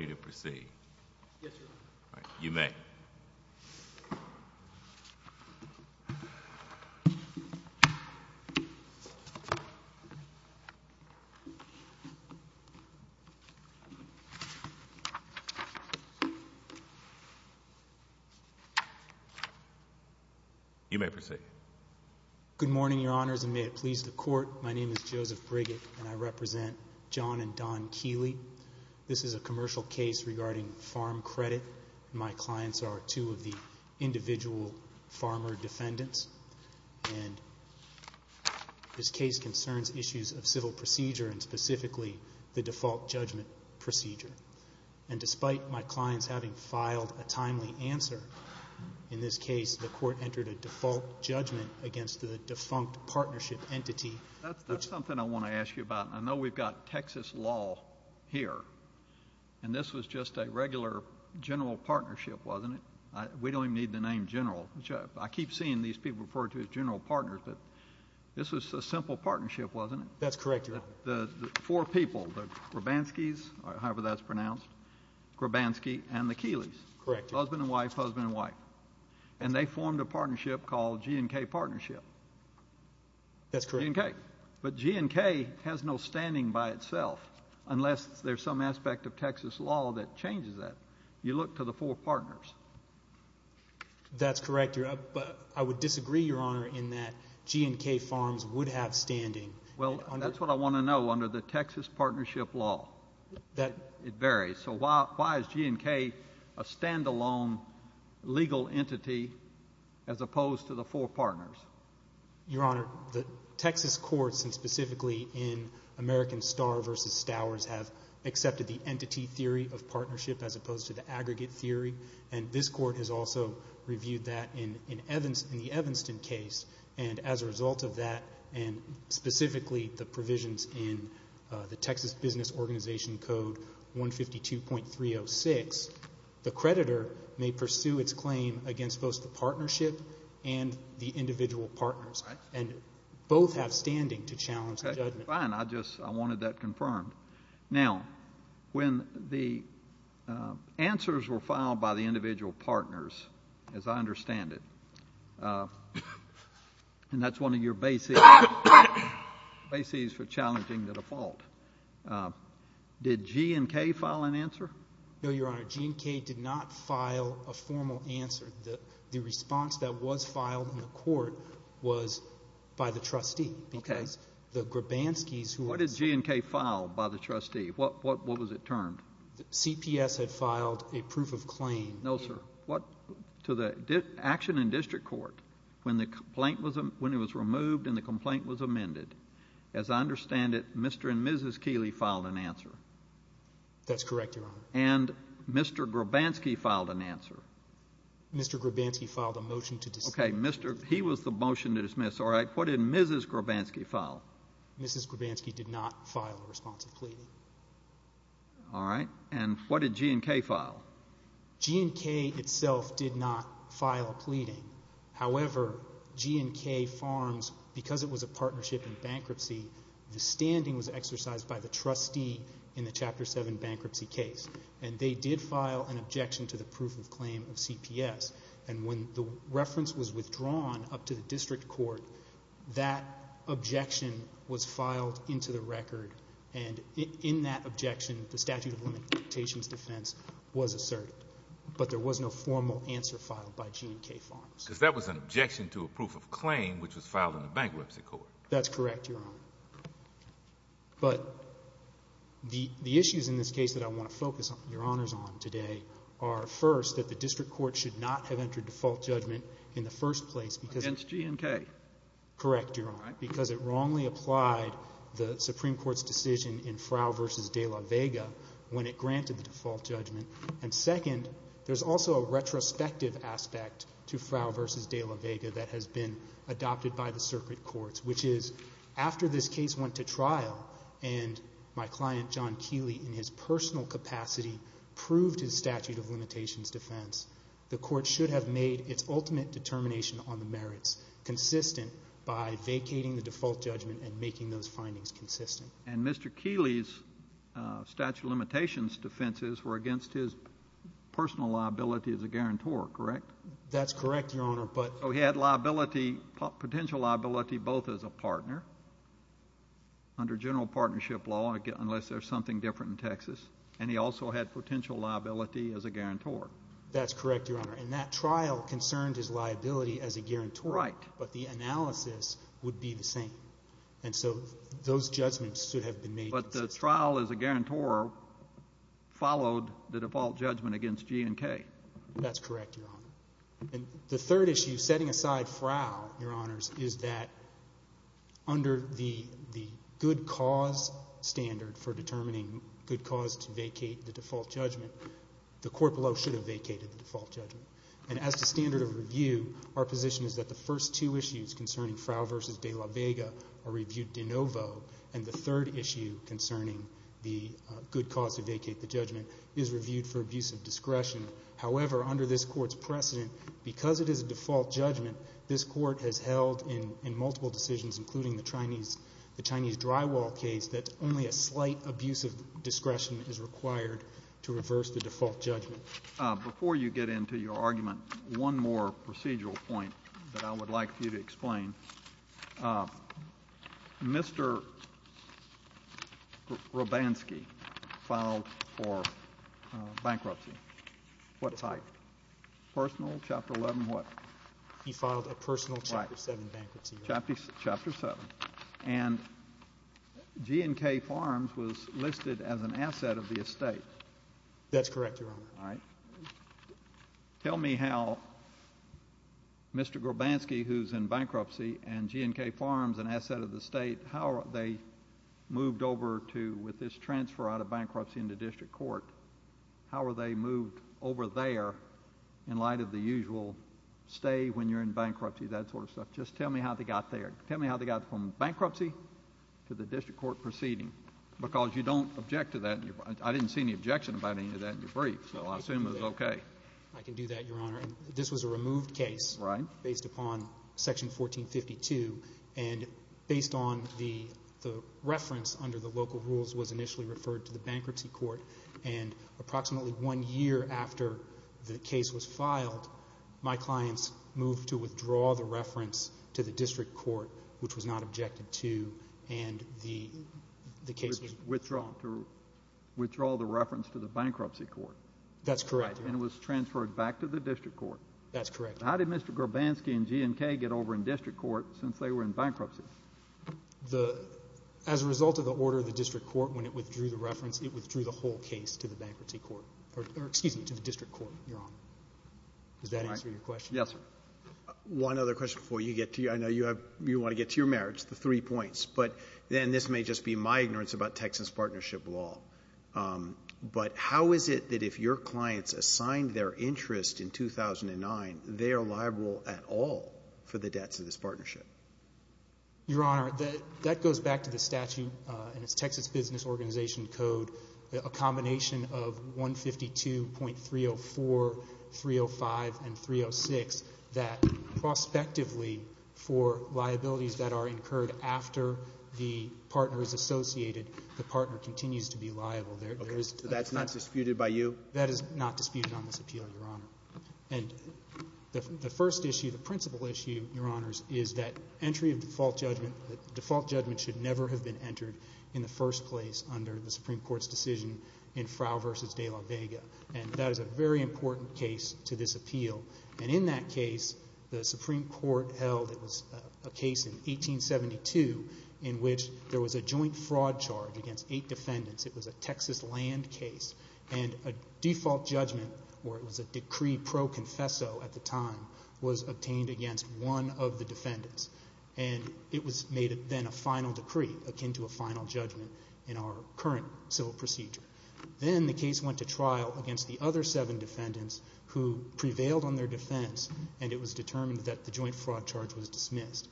al. Good morning, Your Honors, and may it please the Court, my name is Joseph Briggett, and this is a commercial case regarding farm credit, and my clients are two of the individual farmer defendants, and this case concerns issues of civil procedure, and specifically the default judgment procedure. And despite my clients having filed a timely answer in this case, the Court entered a default judgment against the defunct partnership entity, which- And this was just a regular general partnership, wasn't it? We don't even need the name general. I keep seeing these people referred to as general partners, but this was a simple partnership, wasn't it? That's correct, Your Honor. The four people, the Grabanskis, however that's pronounced, Grabanski and the Keelys. Correct. Husband and wife, husband and wife. And they formed a partnership called G & K Partnership. That's correct. G & K. But G & K has no standing by itself, unless there's some aspect of Texas law that changes that. You look to the four partners. That's correct, but I would disagree, Your Honor, in that G & K farms would have standing. Well, that's what I want to know under the Texas partnership law. It varies. So why is G & K a standalone legal entity as opposed to the four partners? Your Honor, the Texas courts, and specifically in American Starr v. Stowers, have accepted the entity theory of partnership as opposed to the aggregate theory, and this court has also reviewed that in the Evanston case, and as a result of that and specifically the provisions in the Texas Business Organization Code 152.306, the creditor may pursue its claim against both the partnership and the individual partners, and both have standing to challenge the judgment. Fine. I just wanted that confirmed. Now, when the answers were filed by the individual partners, as I understand it, and that's one of your bases for challenging the default, did G & K file an answer? No, Your Honor. G & K did not file a formal answer. The response that was filed in the court was by the trustee. Okay. Because the Grabanskis, who are— What did G & K file by the trustee? What was it termed? CPS had filed a proof of claim. No, sir. To the action in district court, when it was removed and the complaint was amended, as I understand it, Mr. and Mrs. Keeley filed an answer. That's correct, Your Honor. And Mr. Grabanski filed an answer. Mr. Grabanski filed a motion to dismiss. Okay. He was the motion to dismiss. All right. What did Mrs. Grabanski file? Mrs. Grabanski did not file a response of pleading. All right. And what did G & K file? G & K itself did not file a pleading. However, G & K Farms, because it was a partnership in bankruptcy, the standing was exercised by the trustee in the Chapter 7 bankruptcy case. And they did file an objection to the proof of claim of CPS. And when the reference was withdrawn up to the district court, that objection was filed into the record. And in that objection, the statute of limitations defense was asserted. But there was no formal answer filed by G & K Farms. Because that was an objection to a proof of claim, which was filed in the bankruptcy court. That's correct, Your Honor. But the issues in this case that I want to focus your honors on today are, first, that the district court should not have entered default judgment in the first place. Against G & K. Correct, Your Honor. Because it wrongly applied the Supreme Court's decision in Frow v. De La Vega when it granted the default judgment. And, second, there's also a retrospective aspect to Frow v. De La Vega that has been adopted by the circuit courts, which is, after this case went to trial and my client, John Keeley, in his personal capacity, proved his statute of limitations defense, the court should have made its ultimate determination on the merits, consistent by vacating the default judgment and making those findings consistent. And Mr. Keeley's statute of limitations defenses were against his personal liability as a guarantor, correct? That's correct, Your Honor. So he had potential liability both as a partner, under general partnership law, unless there's something different in Texas, and he also had potential liability as a guarantor. That's correct, Your Honor. And that trial concerned his liability as a guarantor. Right. But the analysis would be the same. And so those judgments should have been made consistent. But the trial as a guarantor followed the default judgment against G & K. That's correct, Your Honor. And the third issue, setting aside FRAO, Your Honors, is that under the good cause standard for determining good cause to vacate the default judgment, the court below should have vacated the default judgment. And as the standard of review, our position is that the first two issues concerning FRAO v. De La Vega are reviewed de novo, and the third issue concerning the good cause to vacate the judgment is reviewed for abuse of discretion. However, under this Court's precedent, because it is a default judgment, this Court has held in multiple decisions, including the Chinese drywall case, that only a slight abuse of discretion is required to reverse the default judgment. Before you get into your argument, one more procedural point that I would like for you to explain. Mr. Grabansky filed for bankruptcy. What type? Personal, Chapter 11, what? He filed a personal Chapter 7 bankruptcy. Chapter 7. And G & K Farms was listed as an asset of the estate. That's correct, Your Honor. Tell me how Mr. Grabansky, who's in bankruptcy, and G & K Farms, an asset of the estate, how they moved over to, with this transfer out of bankruptcy into district court, how were they moved over there in light of the usual stay when you're in bankruptcy, that sort of stuff. Just tell me how they got there. Tell me how they got from bankruptcy to the district court proceeding, because you don't object to that. I didn't see any objection about any of that in your brief, so I assume it was okay. I can do that, Your Honor. This was a removed case. Right. Based upon Section 1452, and based on the reference under the local rules was initially referred to the bankruptcy court, and approximately one year after the case was filed, my clients moved to withdraw the reference to the district court, which was not objected to, and the case was withdrawn. To withdraw the reference to the bankruptcy court. That's correct, Your Honor. And it was transferred back to the district court. That's correct. How did Mr. Grabansky and G & K get over in district court since they were in bankruptcy? As a result of the order of the district court, when it withdrew the reference, it withdrew the whole case to the bankruptcy court, or excuse me, to the district court, Your Honor. Does that answer your question? Yes, sir. One other question before you get to your, I know you want to get to your merits, the three points, but then this may just be my ignorance about Texas partnership law, but how is it that if your clients assigned their interest in 2009, they are liable at all for the debts of this partnership? Your Honor, that goes back to the statute in its Texas Business Organization Code, a combination of 152.304, 305, and 306, that prospectively for liabilities that are incurred after the partner is associated, the partner continues to be liable. So that's not disputed by you? That is not disputed on this appeal, Your Honor. And the first issue, the principal issue, Your Honors, is that entry of default judgment should never have been entered in the first place under the Supreme Court's decision in Frow v. De La Vega, and that is a very important case to this appeal. And in that case, the Supreme Court held it was a case in 1872 in which there was a joint fraud charge against eight defendants. It was a Texas land case. And a default judgment, or it was a decree pro confesso at the time, was obtained against one of the defendants, and it was made then a final decree akin to a final judgment in our current civil procedure. Then the case went to trial against the other seven defendants who prevailed on their defense, and it was determined that the joint fraud charge was dismissed.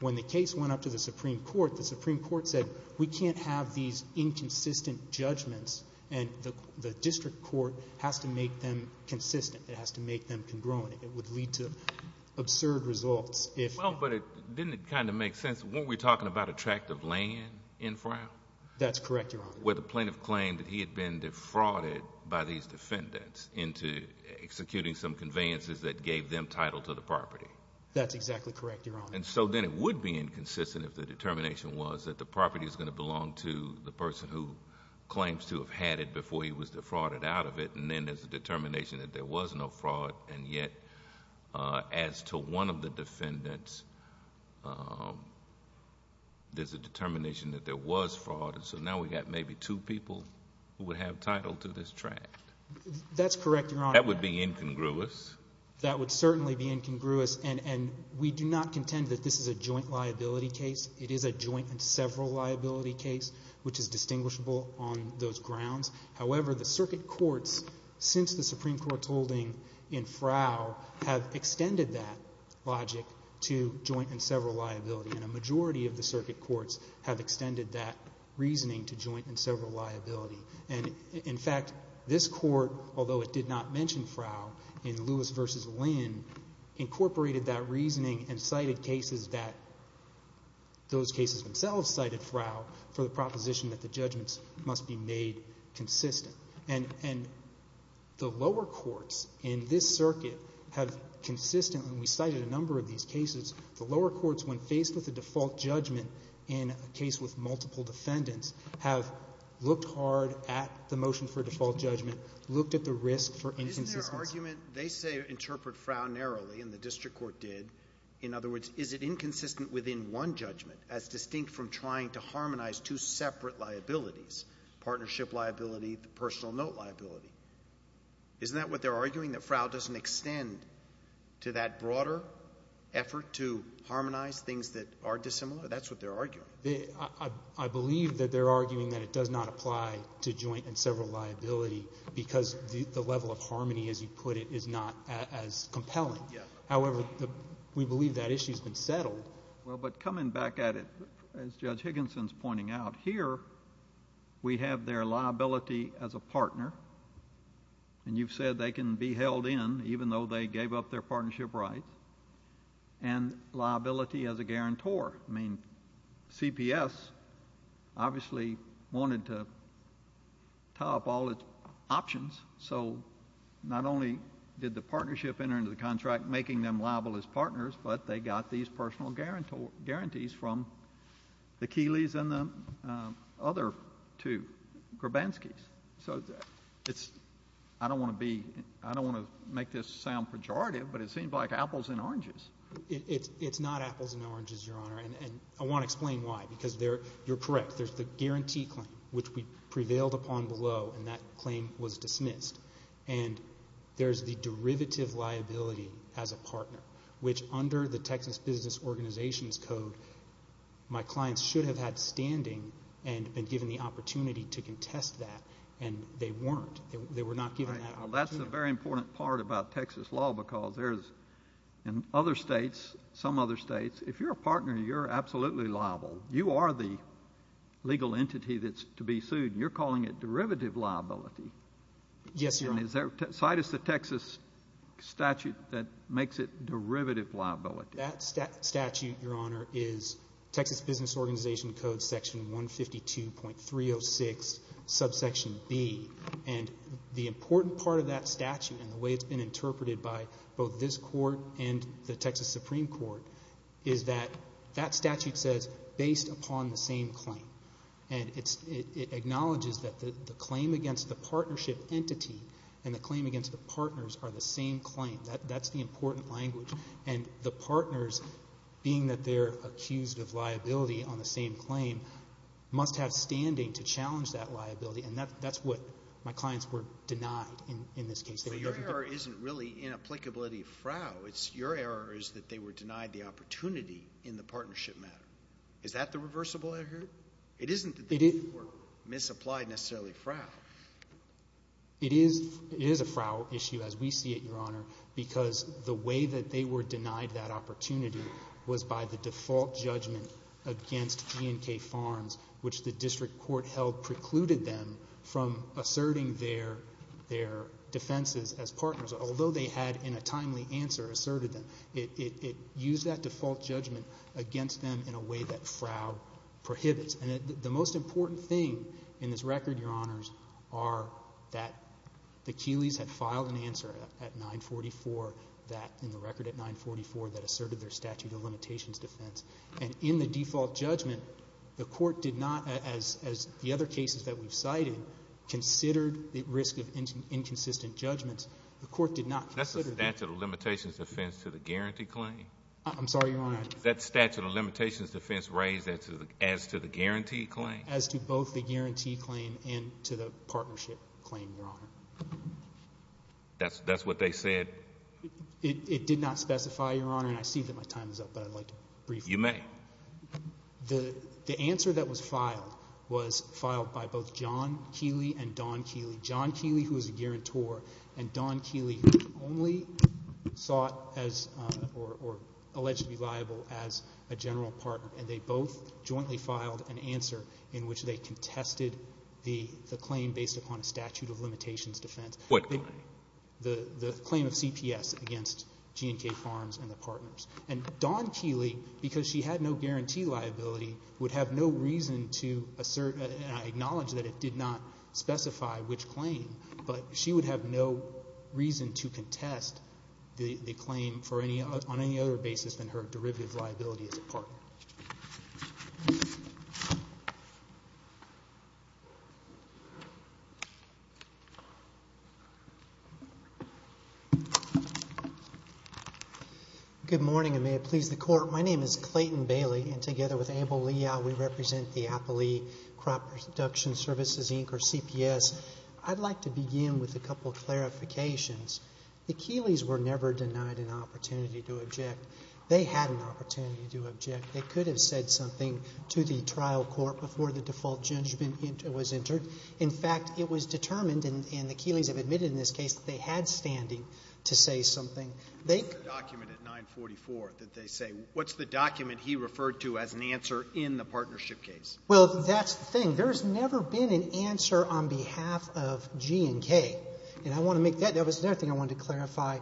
When the case went up to the Supreme Court, the Supreme Court said we can't have these inconsistent judgments, and the district court has to make them consistent. It has to make them congruent. It would lead to absurd results. Well, but didn't it kind of make sense? Weren't we talking about a tract of land in Frow? That's correct, Your Honor. Where the plaintiff claimed that he had been defrauded by these defendants into executing some conveyances that gave them title to the property. That's exactly correct, Your Honor. And so then it would be inconsistent if the determination was that the property is going to belong to the person who claims to have had it before he was defrauded out of it, and then there's a determination that there was no fraud, and yet as to one of the defendants, there's a determination that there was fraud. So now we've got maybe two people who would have title to this tract. That's correct, Your Honor. That would be incongruous. That would certainly be incongruous, and we do not contend that this is a joint liability case. It is a joint and several liability case, which is distinguishable on those grounds. However, the circuit courts, since the Supreme Court's holding in Frow, have extended that logic to joint and several liability, and a majority of the circuit courts have extended that reasoning to joint and several liability. And, in fact, this court, although it did not mention Frow in Lewis v. Lynn, incorporated that reasoning and cited cases that those cases themselves cited Frow for the proposition that the judgments must be made consistent. And the lower courts in this circuit have consistently, and we cited a number of these cases, the lower courts, when faced with a default judgment in a case with multiple defendants, have looked hard at the motion for default judgment, looked at the risk for inconsistency. Isn't there an argument? They say interpret Frow narrowly, and the district court did. In other words, is it inconsistent within one judgment as distinct from trying to harmonize two separate liabilities, partnership liability, the personal note liability? Isn't that what they're arguing, that Frow doesn't extend to that broader effort to harmonize things that are dissimilar? That's what they're arguing. I believe that they're arguing that it does not apply to joint and several liability because the level of harmony, as you put it, is not as compelling. Well, but coming back at it, as Judge Higginson's pointing out, here we have their liability as a partner, and you've said they can be held in even though they gave up their partnership rights, and liability as a guarantor. I mean, CPS obviously wanted to tie up all its options, so not only did the partnership enter into the contract making them liable as partners, but they got these personal guarantees from the Keelys and the other two Grabanskis. So I don't want to make this sound pejorative, but it seems like apples and oranges. It's not apples and oranges, Your Honor, and I want to explain why, because you're correct. There's the guarantee claim, which we prevailed upon below, and that claim was dismissed. And there's the derivative liability as a partner, which under the Texas Business Organizations Code my clients should have had standing and been given the opportunity to contest that, and they weren't. They were not given that opportunity. That's a very important part about Texas law because there's, in other states, some other states, if you're a partner, you're absolutely liable. You are the legal entity that's to be sued, and you're calling it derivative liability. Yes, Your Honor. Cite us the Texas statute that makes it derivative liability. That statute, Your Honor, is Texas Business Organization Code section 152.306, subsection B. And the important part of that statute and the way it's been interpreted by both this court and the Texas Supreme Court is that that statute says, based upon the same claim. And it acknowledges that the claim against the partnership entity and the claim against the partners are the same claim. That's the important language. And the partners, being that they're accused of liability on the same claim, must have standing to challenge that liability, and that's what my clients were denied in this case. Your error isn't really inapplicability of frow. Your error is that they were denied the opportunity in the partnership matter. Is that the reversible error? It isn't that they were misapplied necessarily frow. It is a frow issue as we see it, Your Honor, because the way that they were denied that opportunity was by the default judgment against E&K Farms, which the district court held precluded them from asserting their defenses as partners, although they had in a timely answer asserted them. It used that default judgment against them in a way that frow prohibits. And the most important thing in this record, Your Honors, are that the Keeleys had filed an answer at 944, in the record at 944, that asserted their statute of limitations defense. And in the default judgment, the court did not, as the other cases that we've cited, considered the risk of inconsistent judgments. The court did not consider the... That's the statute of limitations defense to the guarantee claim. I'm sorry, Your Honor. That statute of limitations defense raised as to the guarantee claim. As to both the guarantee claim and to the partnership claim, Your Honor. That's what they said? It did not specify, Your Honor, and I see that my time is up, but I'd like to briefly... You may. The answer that was filed was filed by both John Keeley and Don Keeley. John Keeley, who was a guarantor, and Don Keeley, who only sought or alleged to be liable as a general partner, and they both jointly filed an answer in which they contested the claim based upon a statute of limitations defense. What claim? The claim of CPS against G&K Farms and the partners. And Don Keeley, because she had no guarantee liability, would have no reason to assert and I acknowledge that it did not specify which claim, but she would have no reason to contest the claim on any other basis than her derivative liability as a partner. Thank you. Good morning, and may it please the Court. My name is Clayton Bailey, and together with Abel Liao, we represent the Appley Crop Production Services, Inc., or CPS. I'd like to begin with a couple of clarifications. The Keeleys were never denied an opportunity to object. They could have said something to the trial court before the default judgment was entered. In fact, it was determined, and the Keeleys have admitted in this case that they had standing to say something. What's the document at 944 that they say? What's the document he referred to as an answer in the partnership case? Well, that's the thing. There's never been an answer on behalf of G&K. And I want to make that. There was another thing I wanted to clarify.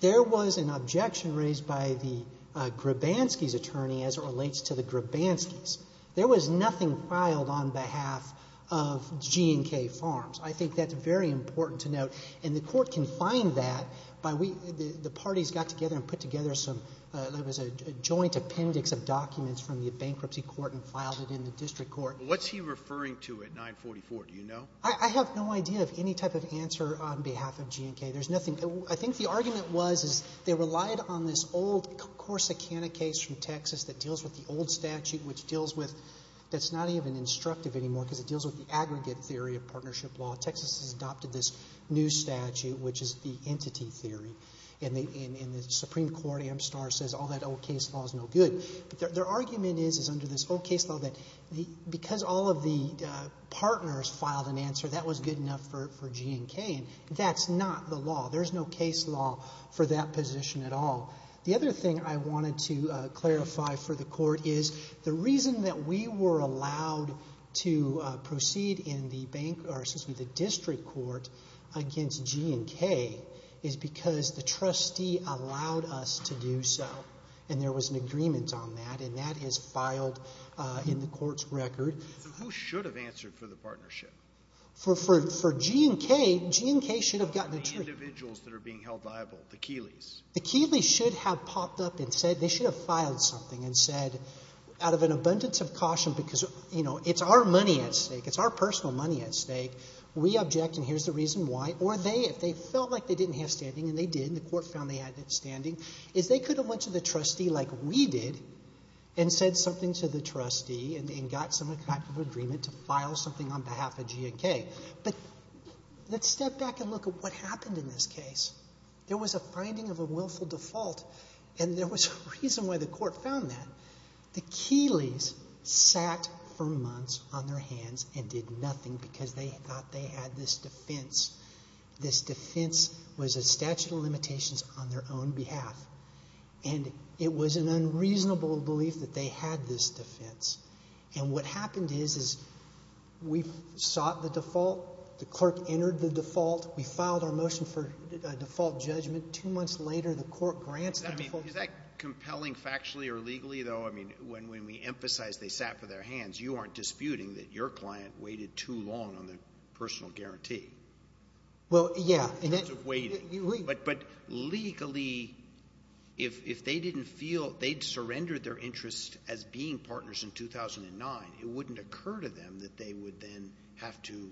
There was an objection raised by the Grabansky's attorney as it relates to the Grabansky's. There was nothing filed on behalf of G&K Farms. I think that's very important to note, and the Court can find that by we — the parties got together and put together some — there was a joint appendix of documents from the bankruptcy court and filed it in the district court. What's he referring to at 944? Do you know? I have no idea of any type of answer on behalf of G&K. There's nothing — I think the argument was is they relied on this old Corsicana case from Texas that deals with the old statute, which deals with — that's not even instructive anymore because it deals with the aggregate theory of partnership law. Texas has adopted this new statute, which is the entity theory. And the Supreme Court, Amstar, says all that old case law is no good. But their argument is, is under this old case law that because all of the partners filed an answer, that was good enough for G&K. And that's not the law. There's no case law for that position at all. The other thing I wanted to clarify for the Court is the reason that we were allowed to proceed in the district court against G&K is because the trustee allowed us to do so. And there was an agreement on that, and that is filed in the Court's record. So who should have answered for the partnership? For G&K, G&K should have gotten a — The individuals that are being held liable, the Keeleys. The Keeleys should have popped up and said — they should have filed something and said, out of an abundance of caution, because, you know, it's our money at stake. It's our personal money at stake. We object, and here's the reason why. Or they, if they felt like they didn't have standing, and they did, and the Court found they had standing, is they could have went to the trustee like we did and said something to the trustee and got some type of agreement to file something on behalf of G&K. But let's step back and look at what happened in this case. There was a finding of a willful default, and there was a reason why the Court found that. The Keeleys sat for months on their hands and did nothing because they thought they had this defense. This defense was a statute of limitations on their own behalf, and it was an unreasonable belief that they had this defense. And what happened is, is we sought the default. The clerk entered the default. We filed our motion for a default judgment. Two months later, the Court grants the default. Is that compelling factually or legally, though? I mean, when we emphasize they sat for their hands, you aren't disputing that your client waited too long on the personal guarantee. Well, yeah. In terms of waiting. But legally, if they didn't feel they'd surrendered their interest as being partners in 2009, it wouldn't occur to them that they would then have to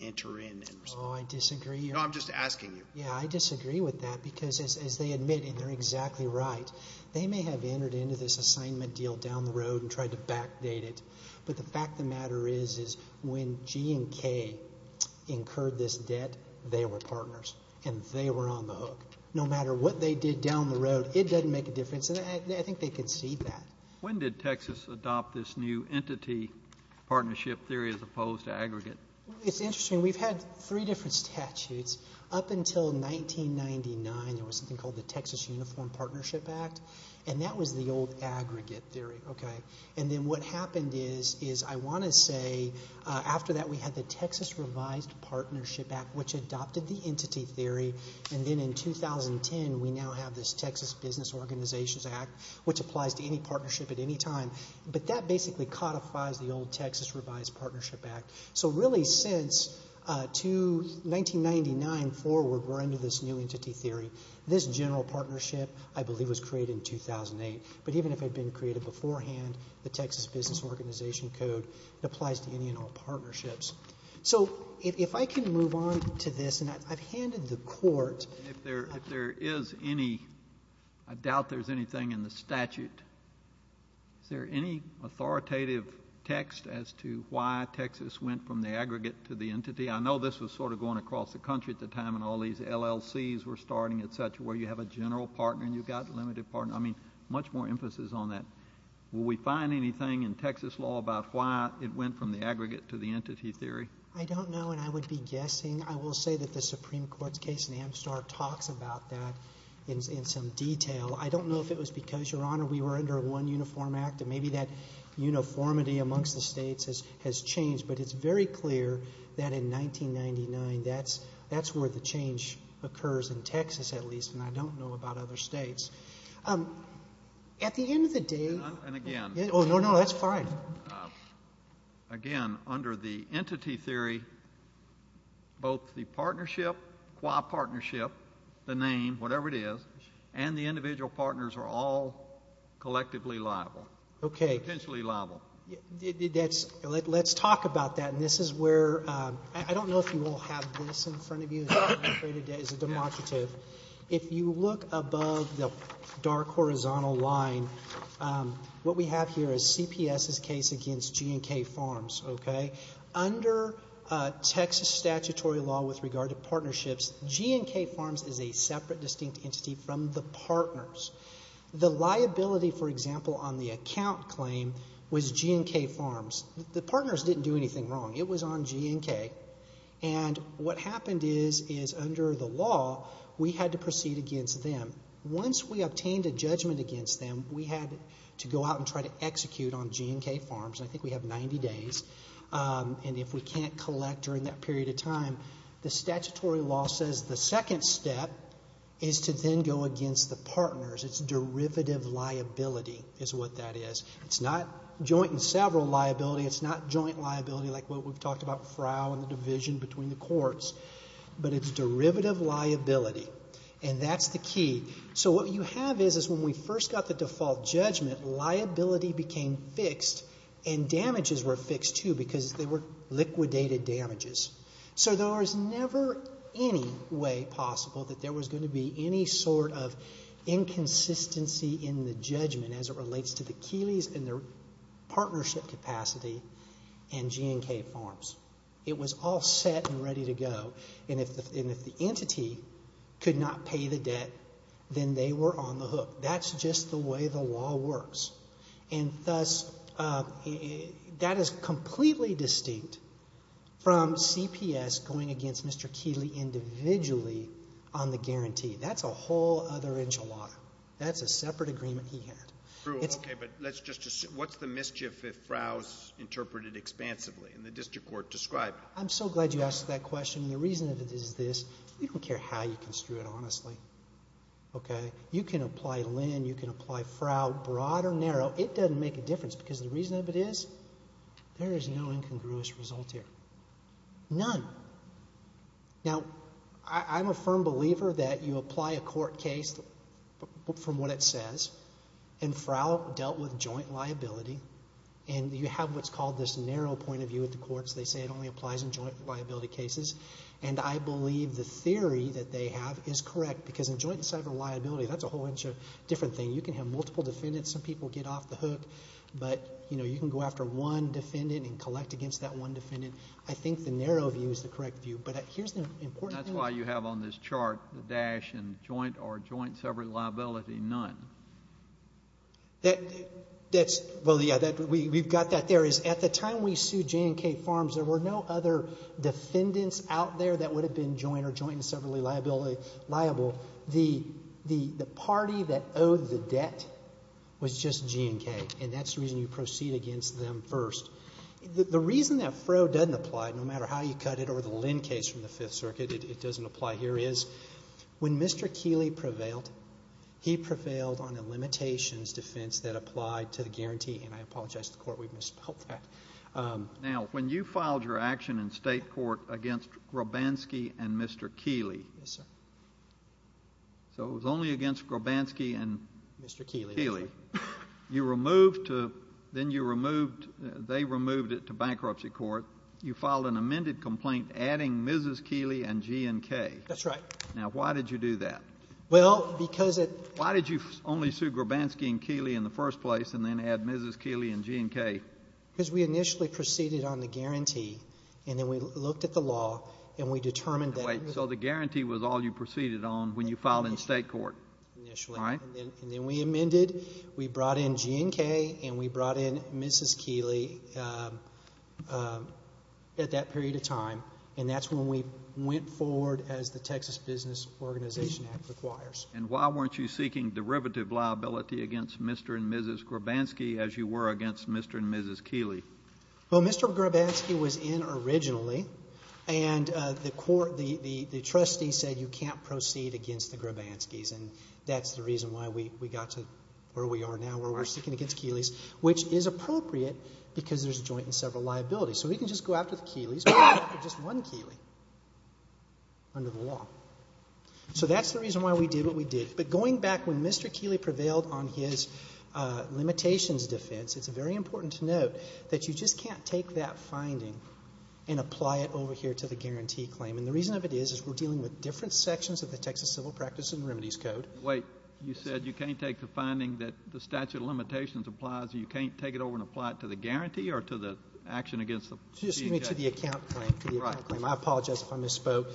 enter in and respond. Oh, I disagree. No, I'm just asking you. Yeah, I disagree with that because, as they admit, and they're exactly right, they may have entered into this assignment deal down the road and tried to backdate it. But the fact of the matter is, is when G and K incurred this debt, they were partners, and they were on the hook. No matter what they did down the road, it doesn't make a difference. And I think they concede that. When did Texas adopt this new entity partnership theory as opposed to aggregate? It's interesting. We've had three different statutes. Up until 1999, there was something called the Texas Uniform Partnership Act, and that was the old aggregate theory. And then what happened is, I want to say, after that we had the Texas Revised Partnership Act, which adopted the entity theory. And then in 2010, we now have this Texas Business Organizations Act, which applies to any partnership at any time. But that basically codifies the old Texas Revised Partnership Act. So really, since 1999 forward, we're under this new entity theory. This general partnership, I believe, was created in 2008. But even if it had been created beforehand, the Texas Business Organization Code applies to any and all partnerships. So if I can move on to this, and I've handed the court. If there is any, I doubt there's anything in the statute. Is there any authoritative text as to why Texas went from the aggregate to the entity? I know this was sort of going across the country at the time, and all these LLCs were starting, et cetera, where you have a general partner and you've got a limited partner. I mean, much more emphasis on that. Will we find anything in Texas law about why it went from the aggregate to the entity theory? I don't know, and I would be guessing. I will say that the Supreme Court's case in Amstar talks about that in some detail. I don't know if it was because, Your Honor, we were under one uniform act, and maybe that uniformity amongst the states has changed. But it's very clear that in 1999, that's where the change occurs, in Texas at least. And I don't know about other states. At the end of the day. And again. Oh, no, no, that's fine. Again, under the entity theory, both the partnership, qua partnership, the name, whatever it is, and the individual partners are all collectively liable. Okay. Potentially liable. Let's talk about that, and this is where, I don't know if you all have this in front of you, as a democrative. If you look above the dark horizontal line, what we have here is CPS's case against G&K Farms. Okay. Under Texas statutory law with regard to partnerships, G&K Farms is a separate distinct entity from the partners. The liability, for example, on the account claim was G&K Farms. The partners didn't do anything wrong. It was on G&K. And what happened is, is under the law, we had to proceed against them. Once we obtained a judgment against them, we had to go out and try to execute on G&K Farms, and I think we have 90 days, and if we can't collect during that period of time, the statutory law says the second step is to then go against the partners. It's derivative liability is what that is. It's not joint and several liability. It's not joint liability like what we've talked about, frow and the division between the courts, but it's derivative liability, and that's the key. So what you have is, is when we first got the default judgment, liability became fixed and damages were fixed too because they were liquidated damages. So there was never any way possible that there was going to be any sort of inconsistency in the judgment as it relates to the Keeleys and their partnership capacity and G&K Farms. It was all set and ready to go, and if the entity could not pay the debt, then they were on the hook. That's just the way the law works. And thus, that is completely distinct from CPS going against Mr. Keeley individually on the guarantee. That's a whole other enchilada. That's a separate agreement he had. Okay, but let's just assume. What's the mischief if frow is interpreted expansively and the district court described it? I'm so glad you asked that question, and the reason of it is this. We don't care how you construe it, honestly. Okay? You can apply Linn. You can apply frow, broad or narrow. It doesn't make a difference because the reason of it is there is no incongruous result here, none. Now, I'm a firm believer that you apply a court case from what it says, and frow dealt with joint liability, and you have what's called this narrow point of view at the courts. They say it only applies in joint liability cases, and I believe the theory that they have is correct because in joint and separate liability, that's a whole different thing. You can have multiple defendants. Some people get off the hook, but, you know, you can go after one defendant and collect against that one defendant. I think the narrow view is the correct view, but here's the important thing. That's why you have on this chart the dash in joint or joint and separate liability, none. That's, well, yeah, we've got that there. At the time we sued J&K Farms, there were no other defendants out there that would have been joint or joint and separate liability liable. The party that owed the debt was just J&K, and that's the reason you proceed against them first. The reason that frow doesn't apply, no matter how you cut it, or the Linn case from the Fifth Circuit, it doesn't apply here is when Mr. Keeley prevailed, he prevailed on a limitations defense that applied to the guarantee, and I apologize to the Court. We misspelled that. Now, when you filed your action in state court against Grobanski and Mr. Keeley. Yes, sir. So it was only against Grobanski and Keeley. You removed to, then you removed, they removed it to bankruptcy court. You filed an amended complaint adding Mrs. Keeley and J&K. That's right. Now, why did you do that? Well, because it. Why did you only sue Grobanski and Keeley in the first place and then add Mrs. Keeley and J&K? Because we initially proceeded on the guarantee, and then we looked at the law, and we determined that. Wait, so the guarantee was all you proceeded on when you filed in state court? Initially. All right. And then we amended. We brought in J&K, and we brought in Mrs. Keeley at that period of time, and that's when we went forward as the Texas Business Organization Act requires. And why weren't you seeking derivative liability against Mr. and Mrs. Grobanski as you were against Mr. and Mrs. Keeley? Well, Mr. Grobanski was in originally, and the court, the trustee said you can't proceed against the Grobanskis, and that's the reason why we got to where we are now where we're seeking against Keeley's, which is appropriate because there's joint and several liabilities. So we can just go after the Keeleys, but we can't go after just one Keeley under the law. So that's the reason why we did what we did. But going back when Mr. Keeley prevailed on his limitations defense, it's very important to note that you just can't take that finding and apply it over here to the guarantee claim. And the reason of it is we're dealing with different sections of the Texas Civil Practice and Remedies Code. Wait. You said you can't take the finding that the statute of limitations applies, and you can't take it over and apply it to the guarantee or to the action against the CJA? Excuse me, to the account claim, to the account claim. I apologize if I misspoke.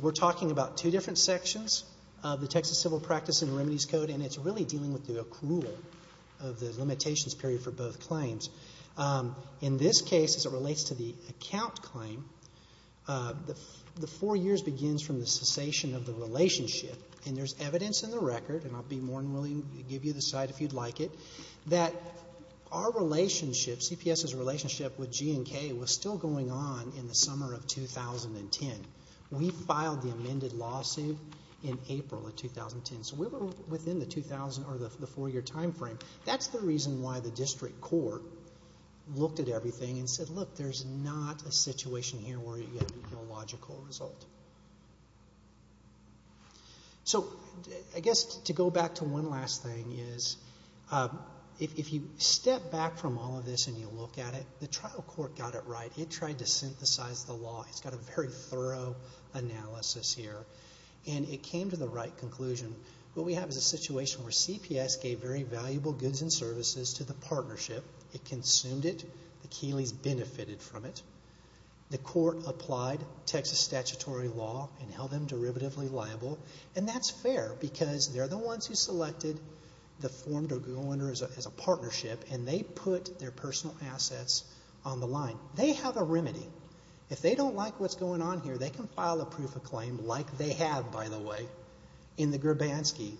We're talking about two different sections of the Texas Civil Practice and Remedies Code, and it's really dealing with the accrual of the limitations period for both claims. In this case, as it relates to the account claim, the four years begins from the cessation of the relationship, and there's evidence in the record, and I'll be more than willing to give you the cite if you'd like it, that our relationship, CPS's relationship with G&K, was still going on in the summer of 2010. We filed the amended lawsuit in April of 2010. So we were within the four-year time frame. That's the reason why the district court looked at everything and said, look, there's not a situation here where you get a logical result. So I guess to go back to one last thing is if you step back from all of this and you look at it, the trial court got it right. It tried to synthesize the law. It's got a very thorough analysis here, and it came to the right conclusion. What we have is a situation where CPS gave very valuable goods and services to the partnership. It consumed it. The Keeleys benefited from it. The court applied Texas statutory law and held them derivatively liable, and that's fair because they're the ones who selected the form to go under as a partnership, and they put their personal assets on the line. They have a remedy. If they don't like what's going on here, they can file a proof of claim, like they have, by the way, in the Grabansky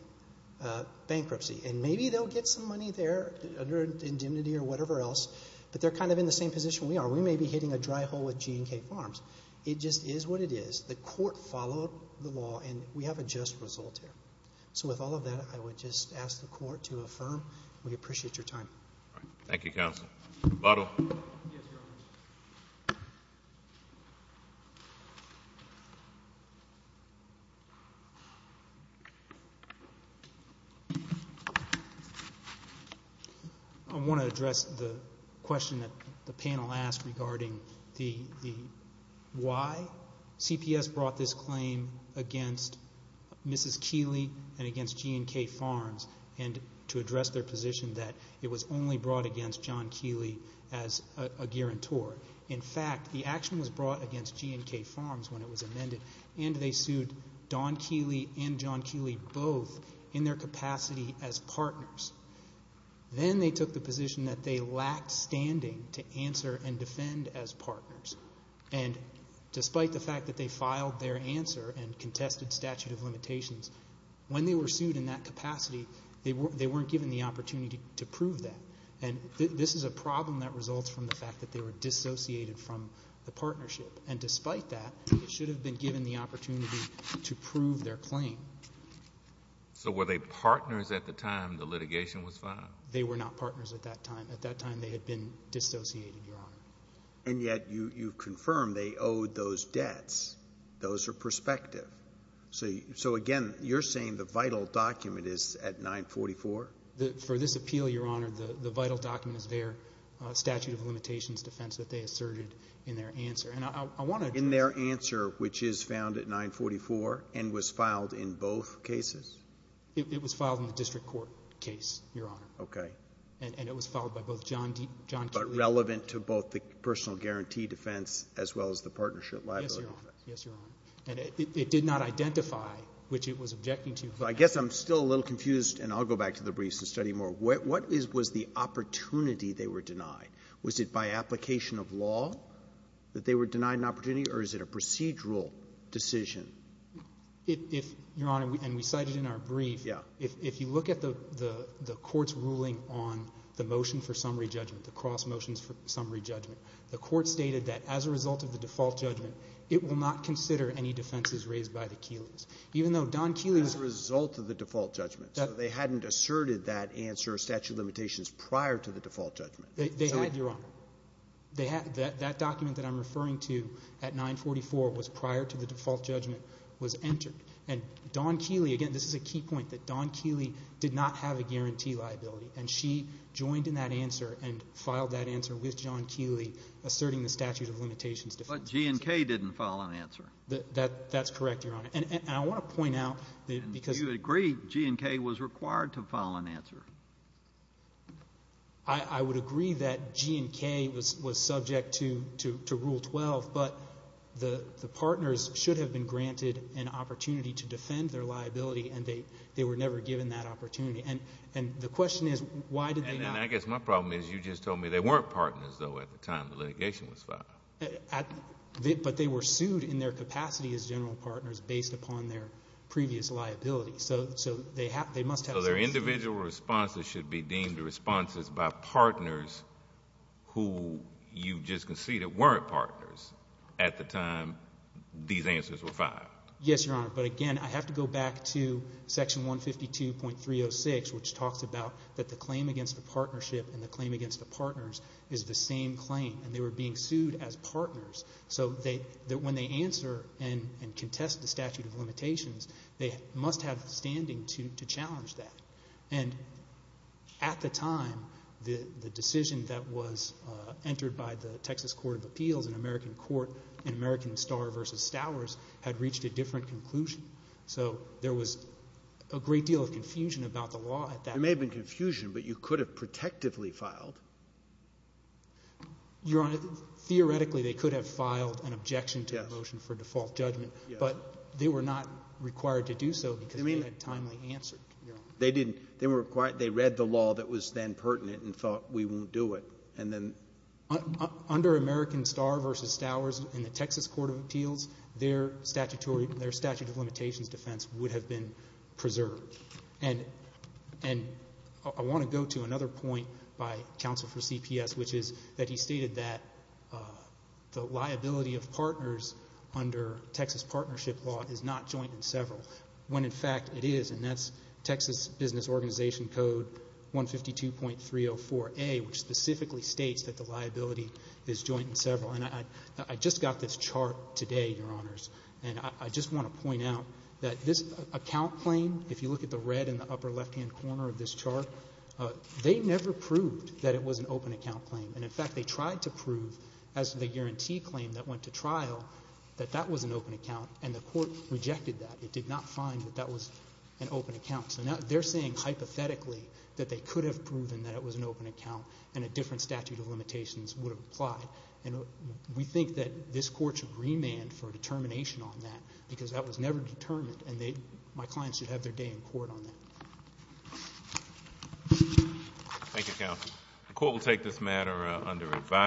bankruptcy, and maybe they'll get some money there under indemnity or whatever else, but they're kind of in the same position we are. We may be hitting a dry hole with G&K Farms. It just is what it is. The court followed the law, and we have a just result here. So with all of that, I would just ask the court to affirm. We appreciate your time. Thank you, counsel. Yes, Your Honor. I want to address the question that the panel asked regarding the why CPS brought this claim against Mrs. and to address their position that it was only brought against John Keeley as a guarantor. In fact, the action was brought against G&K Farms when it was amended, and they sued Don Keeley and John Keeley both in their capacity as partners. Then they took the position that they lacked standing to answer and defend as partners, and despite the fact that they filed their answer and contested statute of limitations, when they were sued in that capacity, they weren't given the opportunity to prove that. And this is a problem that results from the fact that they were dissociated from the partnership, and despite that, they should have been given the opportunity to prove their claim. So were they partners at the time the litigation was filed? They were not partners at that time. At that time, they had been dissociated, Your Honor. And yet you confirm they owed those debts. Those are prospective. So, again, you're saying the vital document is at 944? For this appeal, Your Honor, the vital document is their statute of limitations defense that they asserted in their answer. In their answer, which is found at 944 and was filed in both cases? It was filed in the district court case, Your Honor. Okay. And it was filed by both John Keeley. But relevant to both the personal guarantee defense as well as the partnership liability defense. Yes, Your Honor. And it did not identify which it was objecting to. I guess I'm still a little confused, and I'll go back to the briefs and study more. What was the opportunity they were denied? Was it by application of law that they were denied an opportunity, or is it a procedural decision? If, Your Honor, and we cited in our brief, if you look at the court's ruling on the motion for summary judgment, the cross motions for summary judgment, the court stated that as a result of the default judgment, it will not consider any defenses raised by the Keeleys. Even though Don Keeley's. As a result of the default judgment. So they hadn't asserted that answer, statute of limitations, prior to the default judgment. They had, Your Honor. That document that I'm referring to at 944 was prior to the default judgment was entered. And Don Keeley, again, this is a key point, that Don Keeley did not have a guarantee liability, and she joined in that answer and filed that answer with John Keeley asserting the statute of limitations defense. But G and K didn't file an answer. That's correct, Your Honor. And I want to point out because. Do you agree G and K was required to file an answer? I would agree that G and K was subject to Rule 12, but the partners should have been granted an opportunity to defend their liability, and they were never given that opportunity. And the question is why did they not? And I guess my problem is you just told me they weren't partners, though, at the time the litigation was filed. But they were sued in their capacity as general partners based upon their previous liability. So they must have. So their individual responses should be deemed responses by partners who you just conceded weren't partners at the time these answers were filed. Yes, Your Honor. But, again, I have to go back to Section 152.306, which talks about that the claim against the partnership and the claim against the partners is the same claim, and they were being sued as partners. So when they answer and contest the statute of limitations, they must have standing to challenge that. And at the time, the decision that was entered by the Texas Court of Appeals, and American Court, and American Star v. Stowers had reached a different conclusion. So there was a great deal of confusion about the law at that time. There may have been confusion, but you could have protectively filed. Your Honor, theoretically they could have filed an objection to the motion for default judgment, but they were not required to do so because they had a timely answer. They didn't. They read the law that was then pertinent and thought we won't do it. Under American Star v. Stowers in the Texas Court of Appeals, their statute of limitations defense would have been preserved. And I want to go to another point by counsel for CPS, which is that he stated that the liability of partners under Texas partnership law is not joint in several, when in fact it is, and that's Texas Business Organization Code 152.304A, which specifically states that the liability is joint in several. And I just got this chart today, Your Honors, and I just want to point out that this account claim, if you look at the red in the upper left-hand corner of this chart, they never proved that it was an open account claim. And, in fact, they tried to prove, as the guarantee claim that went to trial, that that was an open account, and the Court rejected that. It did not find that that was an open account. So now they're saying hypothetically that they could have proven that it was an open account and a different statute of limitations would have applied. And we think that this Court should remand for determination on that, because that was never determined, and my clients should have their day in court on that. Thank you, counsel. The Court will take this matter under advisory.